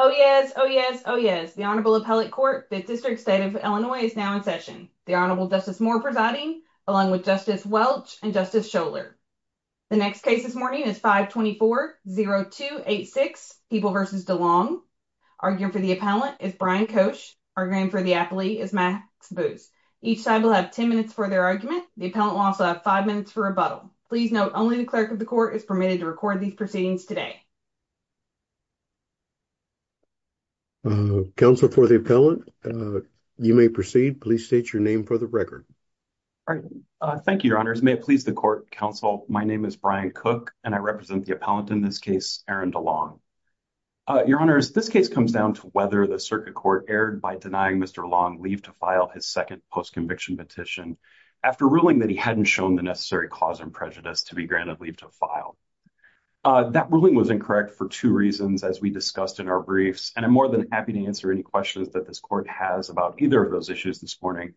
Oh yes, oh yes, oh yes. The Honorable Appellate Court, 5th District, State of Illinois, is now in session. The Honorable Justice Moore presiding, along with Justice Welch and Justice Scholar. The next case this morning is 524-0286, Hebel v. Delong. Arguing for the appellant is Brian Koch. Arguing for the appellee is Max Booth. Each side will have 10 minutes for their argument. The appellant will also have 5 minutes for rebuttal. Please note, only the Clerk of the Court is proceedings today. Counsel for the appellant, you may proceed. Please state your name for the record. Thank you, Your Honors. May it please the Court, Counsel, my name is Brian Koch, and I represent the appellant in this case, Aaron Delong. Your Honors, this case comes down to whether the Circuit Court erred by denying Mr. Delong leave to file his second post-conviction petition after ruling that he hadn't shown the necessary clause and prejudice to be granted leave to file. That ruling was incorrect for two reasons, as we discussed in our briefs, and I'm more than happy to answer any questions that this Court has about either of those issues this morning.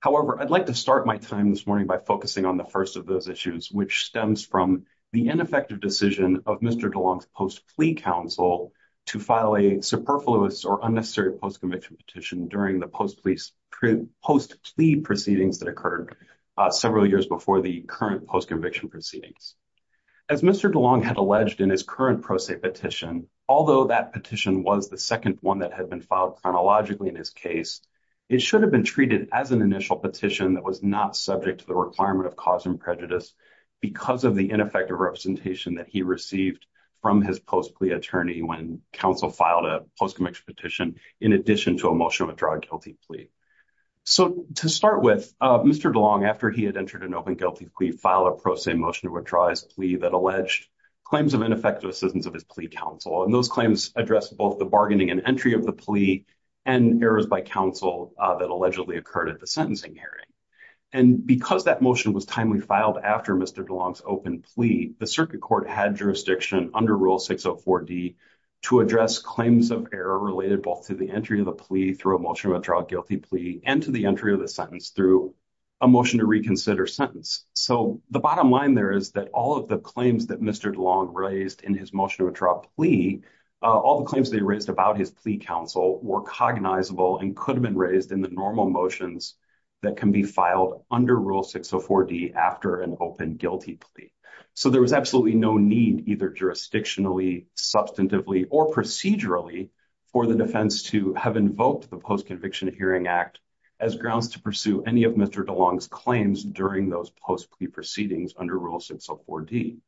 However, I'd like to start my time this morning by focusing on the first of those issues, which stems from the ineffective decision of Mr. Delong's post-plea counsel to file a superfluous or unnecessary post-conviction petition during the post-plea proceedings that several years before the current post-conviction proceedings. As Mr. Delong had alleged in his current pro se petition, although that petition was the second one that had been filed chronologically in his case, it should have been treated as an initial petition that was not subject to the requirement of cause and prejudice because of the ineffective representation that he received from his post-plea attorney when counsel filed a post-conviction petition in addition to a Mr. Delong, after he had entered an open guilty plea, filed a pro se motion to withdraw his plea that alleged claims of ineffective assistance of his plea counsel, and those claims addressed both the bargaining and entry of the plea and errors by counsel that allegedly occurred at the sentencing hearing. And because that motion was timely filed after Mr. Delong's open plea, the Circuit Court had jurisdiction under Rule 604d to address claims of error related both to the entry of the plea through a motion to withdraw a guilty plea and to the entry of the sentence through a motion to reconsider sentence. So the bottom line there is that all of the claims that Mr. Delong raised in his motion to withdraw plea, all the claims they raised about his plea counsel were cognizable and could have been raised in the normal motions that can be filed under Rule 604d after an open guilty plea. So there was absolutely no need either jurisdictionally, substantively, or procedurally for the defense to have invoked the Post-Conviction Hearing Act as grounds to pursue any of Mr. Delong's claims during those post plea proceedings under Rule 604d.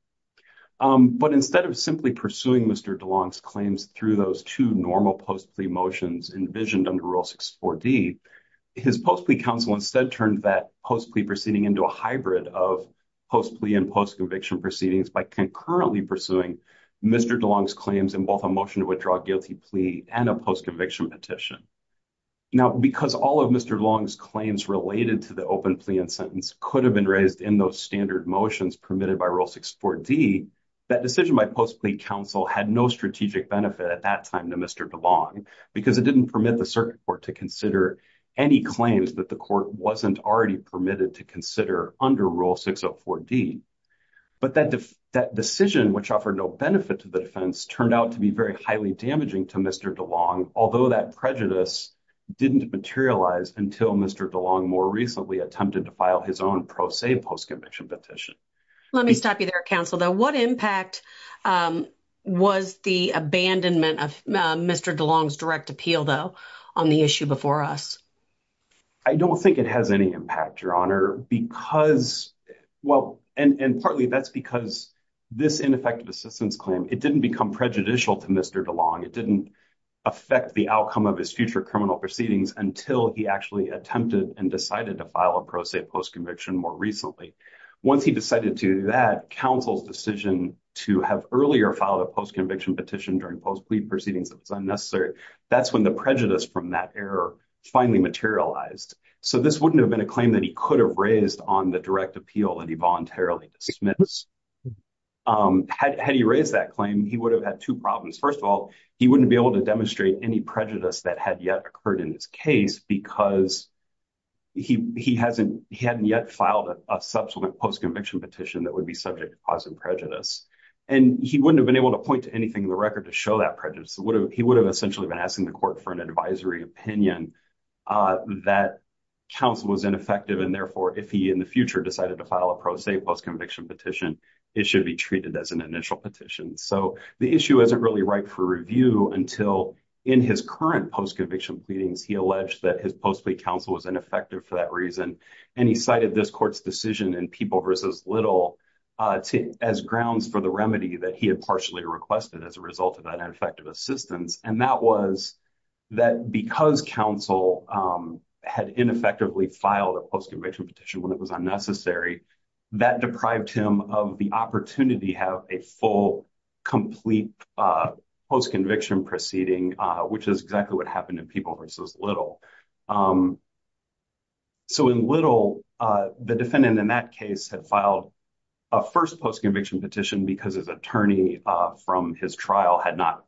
But instead of simply pursuing Mr. Delong's claims through those two normal post plea motions envisioned under Rule 604d, his post plea counsel instead turned that post plea proceeding into a hybrid of post plea and post conviction proceedings by concurrently pursuing Mr. Delong's claims in both a motion to withdraw a guilty plea and a post conviction petition. Now because all of Mr. Delong's claims related to the open plea and sentence could have been raised in those standard motions permitted by Rule 604d, that decision by post plea counsel had no strategic benefit at that time to Mr. Delong because it didn't permit the circuit court to consider any claims that the court wasn't already permitted to consider under Rule 604d. But that decision which offered no benefit to the defense turned out to be very highly damaging to Mr. Delong, although that prejudice didn't materialize until Mr. Delong more recently attempted to file his own pro se post conviction petition. Let me stop you there counsel though. What impact was the abandonment of Mr. Delong's direct appeal though on the issue before us? I don't think it has any impact your honor because well and and partly that's because this ineffective assistance claim it didn't become prejudicial to Mr. Delong. It didn't affect the outcome of his future criminal proceedings until he actually attempted and decided to file a pro se post conviction more recently. Once he decided to do that, counsel's decision to have earlier filed a post conviction petition during post plea proceedings that was unnecessary, that's when the prejudice from that error finally materialized. So this wouldn't have been a claim that he could have raised on the direct appeal that he dismissed. Had he raised that claim, he would have had two problems. First of all, he wouldn't be able to demonstrate any prejudice that had yet occurred in his case because he hasn't he hadn't yet filed a subsequent post conviction petition that would be subject to positive prejudice. And he wouldn't have been able to point to anything in the record to show that prejudice. He would have essentially been asking the court for an advisory opinion that counsel was ineffective. And therefore, if he in the future decided to file a pro se post conviction petition, it should be treated as an initial petition. So the issue isn't really ripe for review until in his current post conviction pleadings, he alleged that his post plea counsel was ineffective for that reason. And he cited this court's decision and people versus little as grounds for the remedy that he had partially requested as a result of that ineffective assistance. And that was that because counsel had ineffectively filed a post conviction petition when it was unnecessary, that deprived him of the opportunity to have a full, complete post conviction proceeding, which is exactly what happened in people versus little. So in little, the defendant in that case had filed a first post conviction petition because his attorney from his trial had not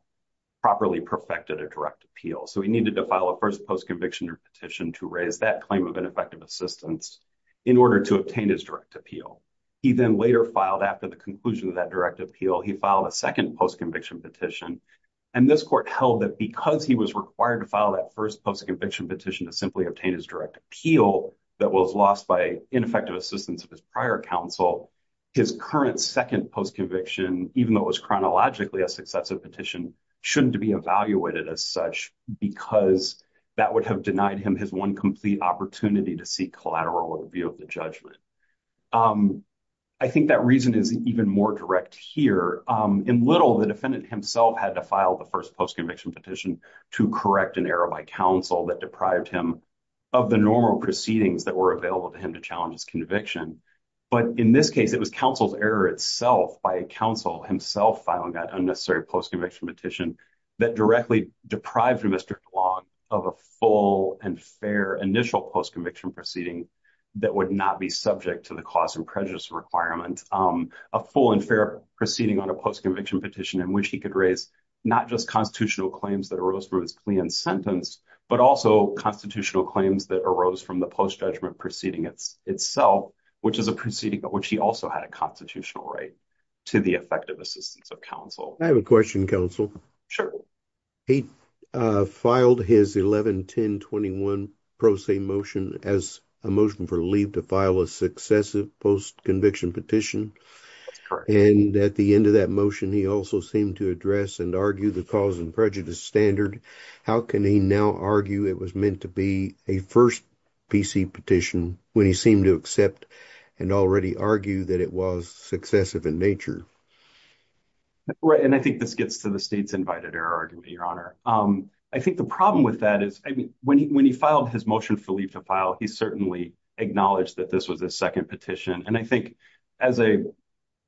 properly perfected a direct appeal. So he needed to file a first post conviction petition to raise that claim of ineffective assistance in order to obtain his direct appeal. He then later filed after the conclusion of that direct appeal, he filed a second post conviction petition. And this court held that because he was required to file that first post conviction petition to simply obtain his direct appeal that was lost by ineffective assistance of his prior counsel, his current second post conviction, even though it was chronologically a successive petition, shouldn't be evaluated as such, because that would have denied him his one complete opportunity to seek collateral with a view of the judgment. I think that reason is even more direct here. In little the defendant himself had to file the first post conviction petition to correct an error by counsel that deprived him of the normal proceedings that were available to him to challenge his conviction. But in this case, it was counsel's error itself by counsel himself filing that unnecessary post conviction petition that directly deprived Mr. Glogg of a full and fair initial post conviction proceeding that would not be subject to the cause and prejudice requirement, a full and fair proceeding on a post conviction petition in which he could raise not just constitutional claims that arose from his plea and sentence, but also constitutional claims that arose from the post judgment proceeding itself, which is a proceeding but which he also had a constitutional right to the effective assistance of counsel. I have a question counsel. Sure. He filed his 11-10-21 pro se motion as a motion for leave to file a successive post conviction petition. And at the end of that motion, he also seemed to address and argue the cause and standard. How can he now argue it was meant to be a first PC petition when he seemed to accept and already argue that it was successive in nature? Right. And I think this gets to the state's invited error argument, your honor. I think the problem with that is when he filed his motion for leave to file, he certainly acknowledged that this was a second petition. And I think as a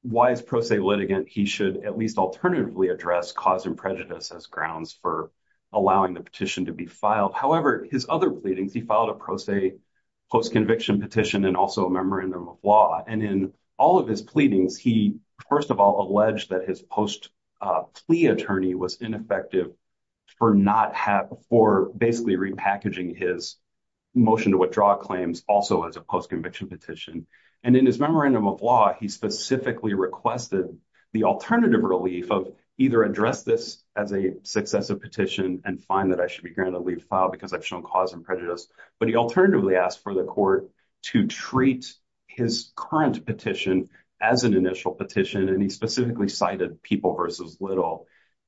wise pro se litigant, he should at least alternatively address cause and prejudice as grounds for allowing the petition to be filed. However, his other pleadings, he filed a pro se post conviction petition and also a memorandum of law. And in all of his pleadings, he first of all alleged that his post plea attorney was ineffective for basically repackaging his motion to withdraw claims also as a post conviction petition. And in his memorandum of law, he specifically requested the alternative relief of either address this as a successive petition and find that I should be granted leave file because I've shown cause and prejudice. But he alternatively asked for the court to treat his current petition as an initial petition. And he specifically cited people versus little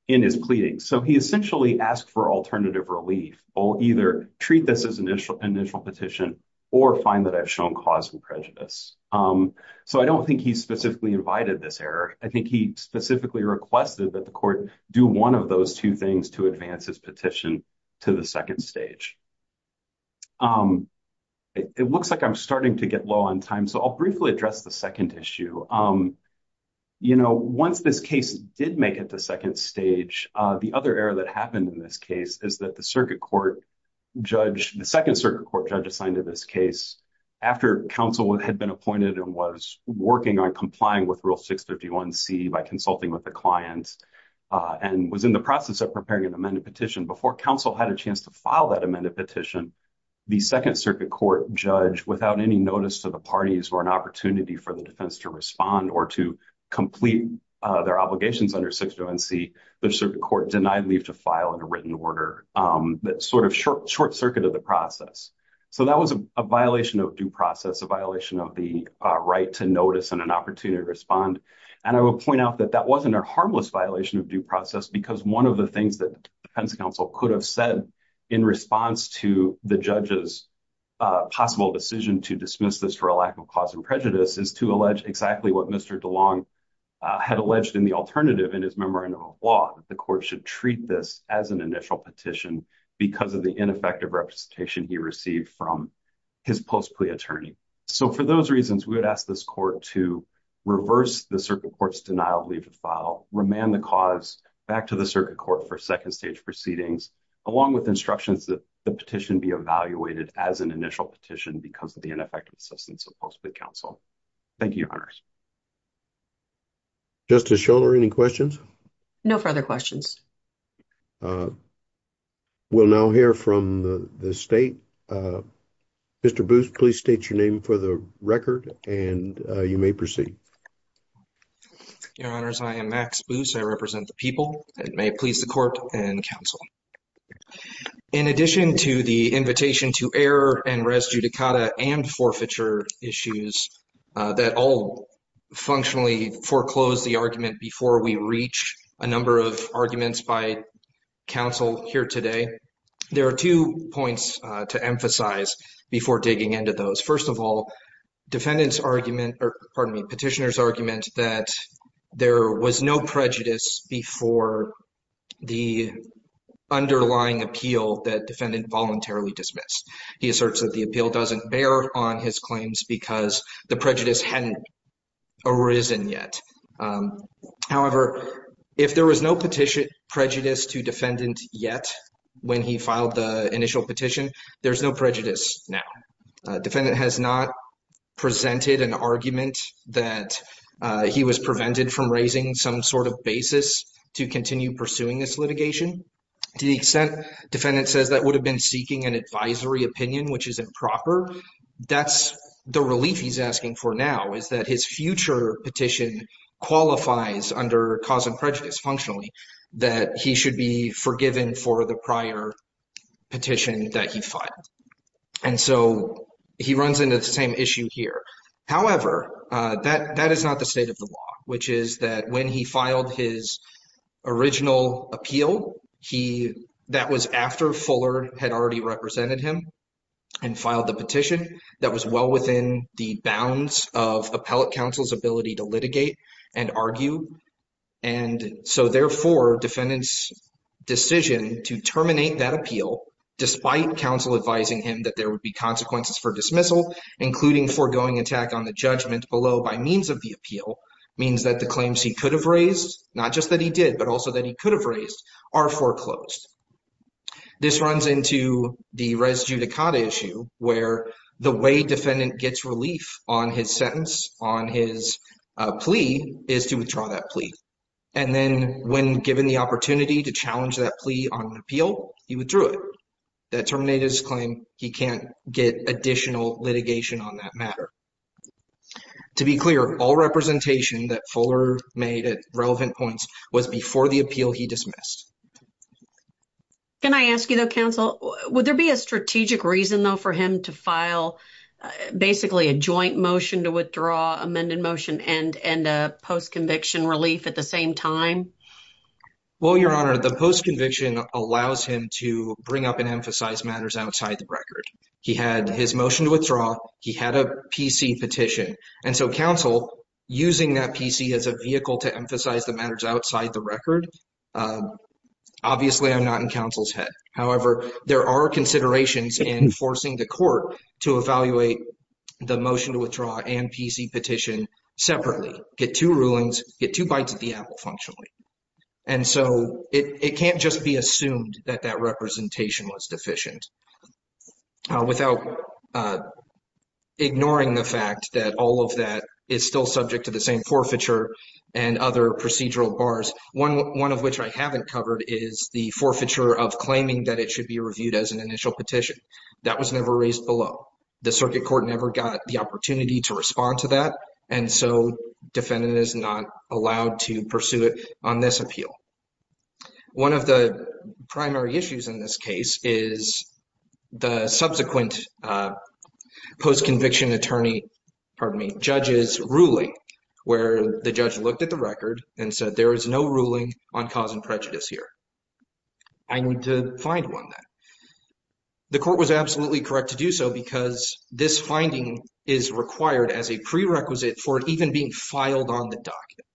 in his pleadings. So he essentially asked for alternative relief or either treat this as initial initial petition or find that I've shown cause and prejudice. So I don't think he specifically invited this error. I think he specifically requested that the court do one of those two things to advance his petition to the second stage. It looks like I'm starting to get low on time. So I'll briefly address the second issue. You know, once this case did make it to second stage, the other error that happened in this case is that the circuit court judge, the second circuit court judge assigned to this case after council had been appointed and was working on complying with rule 651 C by consulting with the client and was in the process of preparing an amended petition before council had a chance to file that amended petition. The second circuit court judge, without any notice to the parties or an opportunity for the defense to respond or to complete their obligations under 601 C, the circuit court denied leave to file in a written order that sort of short circuit of process. So that was a violation of due process, a violation of the right to notice and an opportunity to respond. And I will point out that that wasn't a harmless violation of due process because one of the things that defense council could have said in response to the judge's possible decision to dismiss this for a lack of cause and prejudice is to allege exactly what Mr. DeLong had alleged in the alternative in his memorandum of law, that the court should treat this as an initial petition because of the ineffective representation he received from his post plea attorney. So for those reasons, we would ask this court to reverse the circuit court's denial of leave to file, remand the cause back to the circuit court for second stage proceedings, along with instructions that the petition be evaluated as an initial petition because of the ineffective assistance of post plea counsel. Thank you, your honors. Justice Schoenler, any questions? No further questions. We'll now hear from the state. Mr. Booth, please state your name for the record and you may proceed. Your honors, I am Max Booth. I represent the people and may please the court and counsel. In addition to the invitation to air and res judicata and forfeiture issues that all functionally foreclose the argument before we reach a number of arguments by counsel here today, there are two points to emphasize before digging into those. First of all, petitioner's argument that there was no prejudice before the underlying appeal that defendant voluntarily dismissed. He asserts that the appeal doesn't bear on his claims because the prejudice hadn't arisen yet. However, if there was no petition prejudice to defendant yet when he filed the initial petition, there's no prejudice now. Defendant has not presented an argument that he was prevented from raising some sort of basis to continue pursuing this litigation. To the extent defendant says that would have been seeking an advisory opinion which is improper, that's the relief he's asking for now is that his future petition qualifies under cause and prejudice functionally that he should be forgiven for the prior petition that he filed. And so he runs into the same issue here. However, that is not the state of the law, which is that when he filed his original appeal, that was after Fuller had already represented him and filed the petition that was well within the bounds of appellate counsel's ability to litigate and argue. And so therefore defendant's decision to terminate that appeal despite counsel advising him that there would be consequences for dismissal, including foregoing attack on the judgment below by means of the appeal, means that the claims he could have raised, not just that he did, but also that he could have raised are foreclosed. This runs into the res judicata issue where the way defendant gets relief on his sentence, on his plea, is to withdraw that plea. And then when given the opportunity to challenge that plea on an appeal, he withdrew it. That terminated his claim he can't get additional litigation on that matter. To be clear, all representation that Fuller made at relevant points was before the appeal he missed. Can I ask you, though, counsel, would there be a strategic reason, though, for him to file basically a joint motion to withdraw amended motion and and a post conviction relief at the same time? Well, your honor, the post conviction allows him to bring up and emphasize matters outside the record. He had his motion to withdraw. He had a PC petition. And so counsel using that PC as a vehicle to emphasize the matters outside the record. Obviously, I'm not in counsel's head. However, there are considerations in forcing the court to evaluate the motion to withdraw and PC petition separately, get two rulings, get two bites at the apple functionally. And so it can't just be assumed that that representation was deficient. Without ignoring the fact that all of the cases that I've covered so far, there are a number of cases that is still subject to the same forfeiture and other procedural bars, one of which I haven't covered, is the forfeiture of claiming that it should be reviewed as an initial petition. That was never raised below. The circuit court never got the opportunity to respond to that. And so defendant is not allowed to pursue it on this basis. And so what we have here is the subsequent post-conviction attorney, pardon me, judge's ruling where the judge looked at the record and said there is no ruling on cause and prejudice here. I need to find one that. The court was absolutely correct to do so because this finding is required as a prerequisite for it even being filed on the document.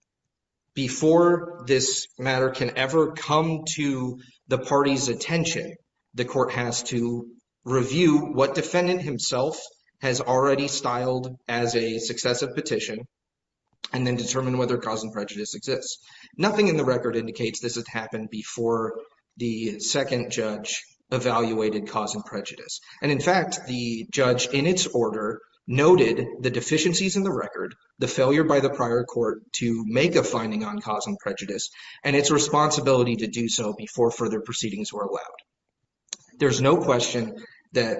Before this matter can ever come to the party's attention, the court has to review what defendant himself has already styled as a successive petition and then determine whether cause and prejudice exists. Nothing in the record indicates this has happened before the second judge evaluated cause and prejudice. And in fact, the judge in its order noted the deficiencies in the record, the failure by the prior court to make a finding on cause and prejudice and its responsibility to do so before further proceedings were allowed. There's no question that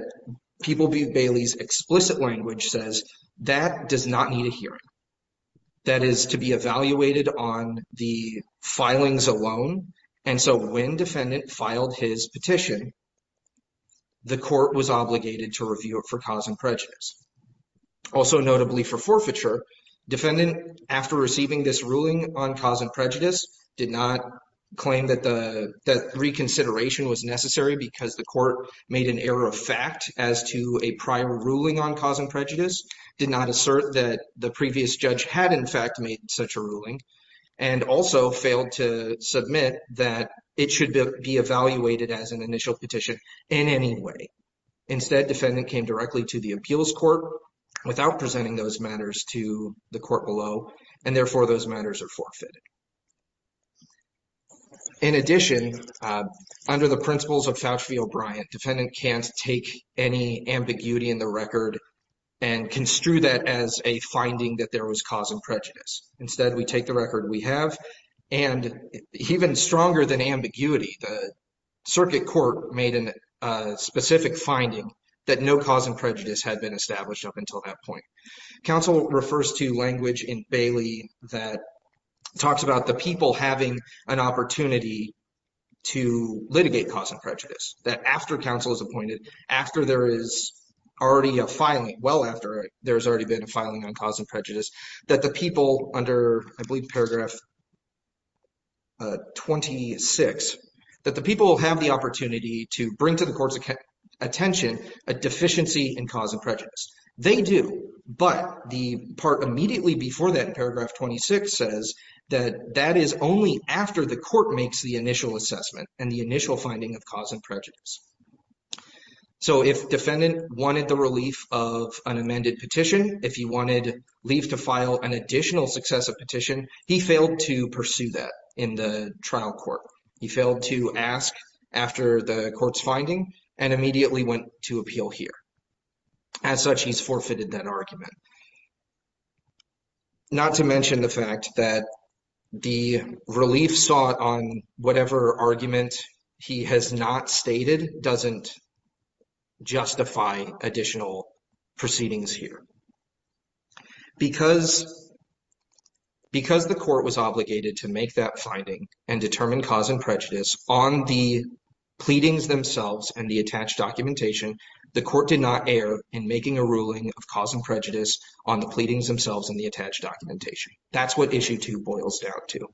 people view Bailey's explicit language says that does not need a hearing. That is to be evaluated on the filings alone. And so when defendant filed his petition, the court was obligated to review it for cause and prejudice. Also notably for forfeiture, defendant after receiving this ruling on cause and prejudice did not claim that the reconsideration was necessary because the court made an error of fact as to a prior ruling on cause and prejudice, did not assert that the previous judge had in fact made such a ruling, and also failed to submit that it should be evaluated as an initial petition in any way. Instead, defendant came directly to the appeals court without presenting those matters to the court below, and therefore those matters are forfeited. In addition, under the principles of Fauci v. O'Brien, defendant can't take any ambiguity in the record and construe that as a finding that there was cause and prejudice. Instead, we take the record we have. And even stronger than ambiguity, the circuit court made a specific finding that no cause and prejudice had been established up until that point. Council refers to language in Bailey that talks about the people having an opportunity to litigate cause and prejudice. That after council is appointed, after there is already a filing, well after there's already been a filing on cause and prejudice, that the people under I believe bring to the court's attention a deficiency in cause and prejudice. They do, but the part immediately before that in paragraph 26 says that that is only after the court makes the initial assessment and the initial finding of cause and prejudice. So if defendant wanted the relief of an amended petition, if he wanted leave to file an additional successive petition, he failed to pursue that in the trial court. He failed to ask after the court's finding and immediately went to appeal here. As such, he's forfeited that argument. Not to mention the fact that the relief sought on whatever argument he has not stated doesn't justify additional proceedings here. Because because the court was obligated to make that finding and determine cause and prejudice on the pleadings themselves and the attached documentation, the court did not err in making a ruling of cause and prejudice on the pleadings themselves and the attached documentation. That's what issue two boils down to.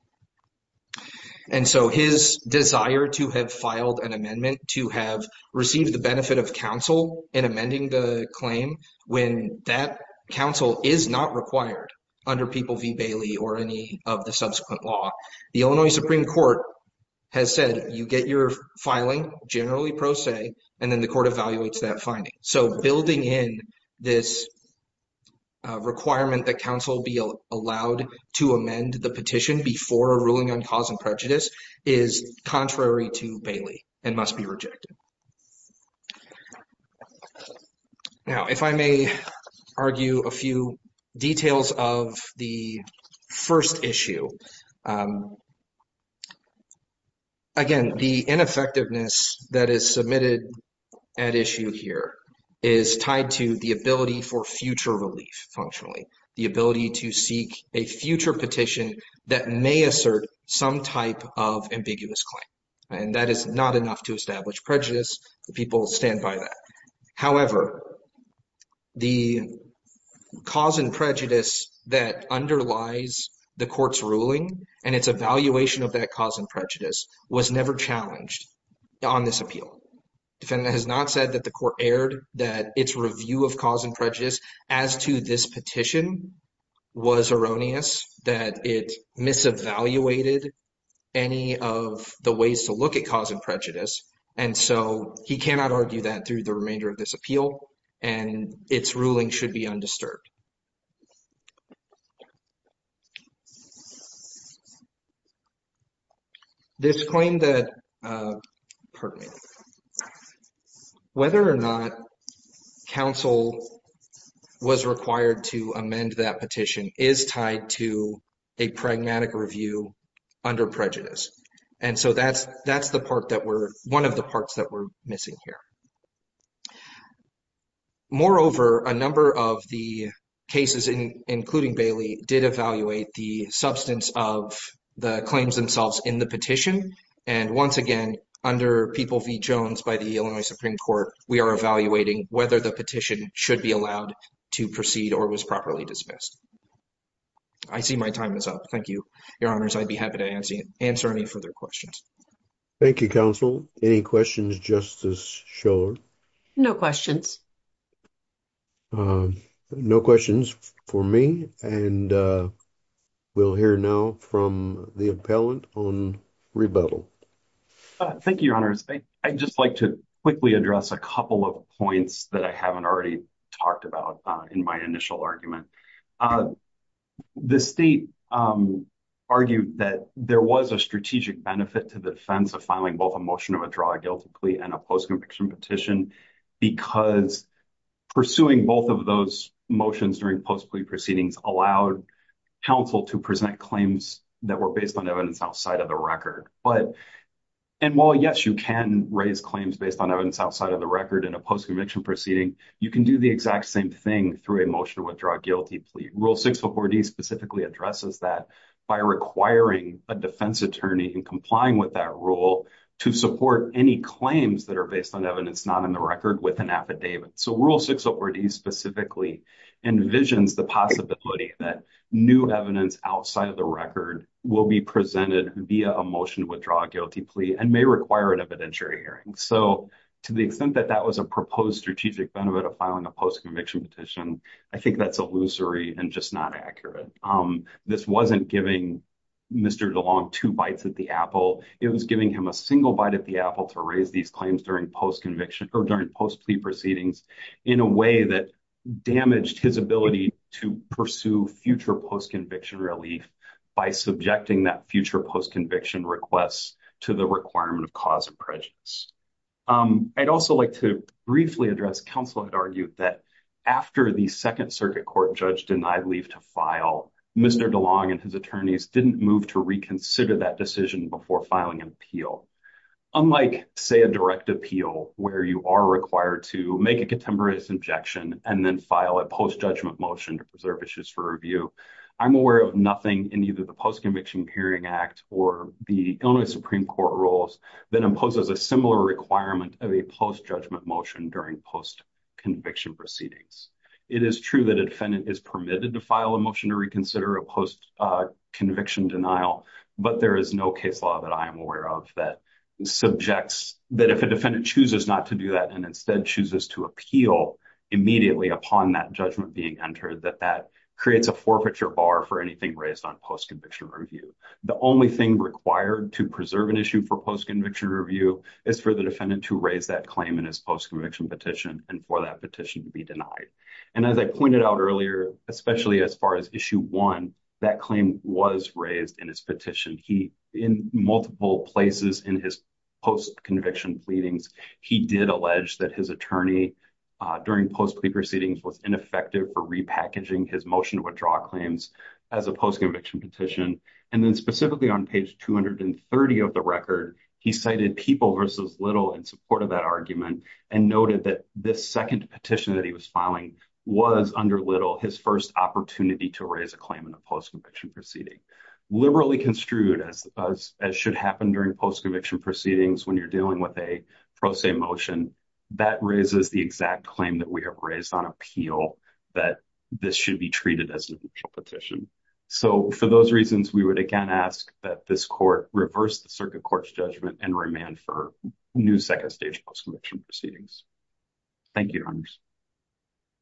And so his desire to have filed an amendment to have received the benefit of council in amending the claim when that council is not required under People v. Bailey or any of the subsequent law. The Illinois Supreme Court has said you get your filing generally pro se and then the court evaluates that finding. So building in this requirement that council be allowed to amend the petition before a ruling on cause and prejudice is contrary to Bailey and must be rejected. Now, if I may argue a few details of the first issue. Again, the ineffectiveness that is submitted at issue here is tied to the ability for future relief functionally. The ability to seek a future petition that may assert some type of ambiguous claim. And that is not enough to establish prejudice. The people stand by that. However, the cause and prejudice that underlies the court's ruling and its evaluation of that cause and prejudice was never challenged on this appeal. Defendant has not said that the court erred, that its review of cause and prejudice as to this petition was erroneous, that it mis-evaluated any of the ways to look at cause and prejudice. And so he cannot argue that through the remainder of this appeal and its ruling should be undisturbed. This claim that, pardon me, whether or not council was required to amend that petition is tied to a pragmatic review under prejudice. And so that's one of the parts that we're missing here. Moreover, a number of the cases, including Bailey, did evaluate the substance of the claims themselves in the petition. And once again, under People v. Jones by the Illinois Supreme Court, we are evaluating whether the petition should be allowed to proceed or was properly dismissed. I see my time is up. Thank you, Your Honors. I'd be happy to answer any further questions. Thank you, counsel. Any questions, Justice Schiller? No questions. No questions for me. And we'll hear now from the appellant on rebuttal. Thank you, Your Honors. I'd just like to quickly address a couple of points that I haven't already talked about in my initial argument. The state argued that there was a strategic benefit to the defense of filing both a motion of a draw guilty plea and a post-conviction petition, because pursuing both of those motions during post-plea proceedings allowed council to present claims that were based on evidence outside of the record. And while, yes, you can raise claims based on outside of the record in a post-conviction proceeding, you can do the exact same thing through a motion to withdraw a guilty plea. Rule 604D specifically addresses that by requiring a defense attorney in complying with that rule to support any claims that are based on evidence not in the record with an affidavit. So Rule 604D specifically envisions the possibility that new evidence outside of the record will be presented via a motion to withdraw a guilty plea and may require an evidentiary hearing. So to the extent that that was a proposed strategic benefit of filing a post-conviction petition, I think that's illusory and just not accurate. This wasn't giving Mr. DeLong two bites at the apple. It was giving him a single bite at the apple to raise these claims during post-conviction or during post-plea proceedings in a way that damaged his ability to pursue future post-conviction relief by subjecting that future post-conviction request to the requirement of cause of prejudice. I'd also like to briefly address counsel had argued that after the Second Circuit Court judge denied leave to file, Mr. DeLong and his attorneys didn't move to reconsider that decision before filing an appeal. Unlike, say, a direct appeal where you are required to make a contemporaneous injection and then file a post-judgment motion to preserve issues for review, I'm aware of nothing in either post-conviction hearing act or the Illinois Supreme Court rules that imposes a similar requirement of a post-judgment motion during post-conviction proceedings. It is true that a defendant is permitted to file a motion to reconsider a post-conviction denial, but there is no case law that I am aware of that subjects that if a defendant chooses not to do that and instead chooses to appeal immediately upon that judgment being entered, that that creates a post-conviction review. The only thing required to preserve an issue for post-conviction review is for the defendant to raise that claim in his post-conviction petition and for that petition to be denied. And as I pointed out earlier, especially as far as issue one, that claim was raised in his petition. He, in multiple places in his post-conviction pleadings, he did allege that his attorney during post-plea proceedings was ineffective for repackaging his motion to withdraw claims as a post-conviction petition. And then specifically on page 230 of the record, he cited People v. Little in support of that argument and noted that this second petition that he was filing was, under Little, his first opportunity to raise a claim in a post- conviction proceeding. Liberally construed as should happen during post-conviction proceedings when you're dealing with a pro se motion, that raises the exact claim that we have raised on appeal that this should be treated as a mutual petition. So for those reasons, we would again ask that this court reverse the circuit court's judgment and remand for new second stage post-conviction proceedings. Thank you, Your Honors.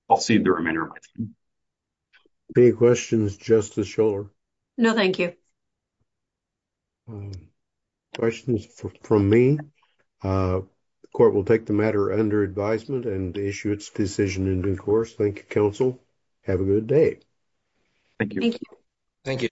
I'll cede the remainder of my time. Any questions, Justice Schoeller? No, thank you. Questions from me? The court will take the matter under advisement and issue its decision in due course. Thank you, counsel. Have a good day. Thank you.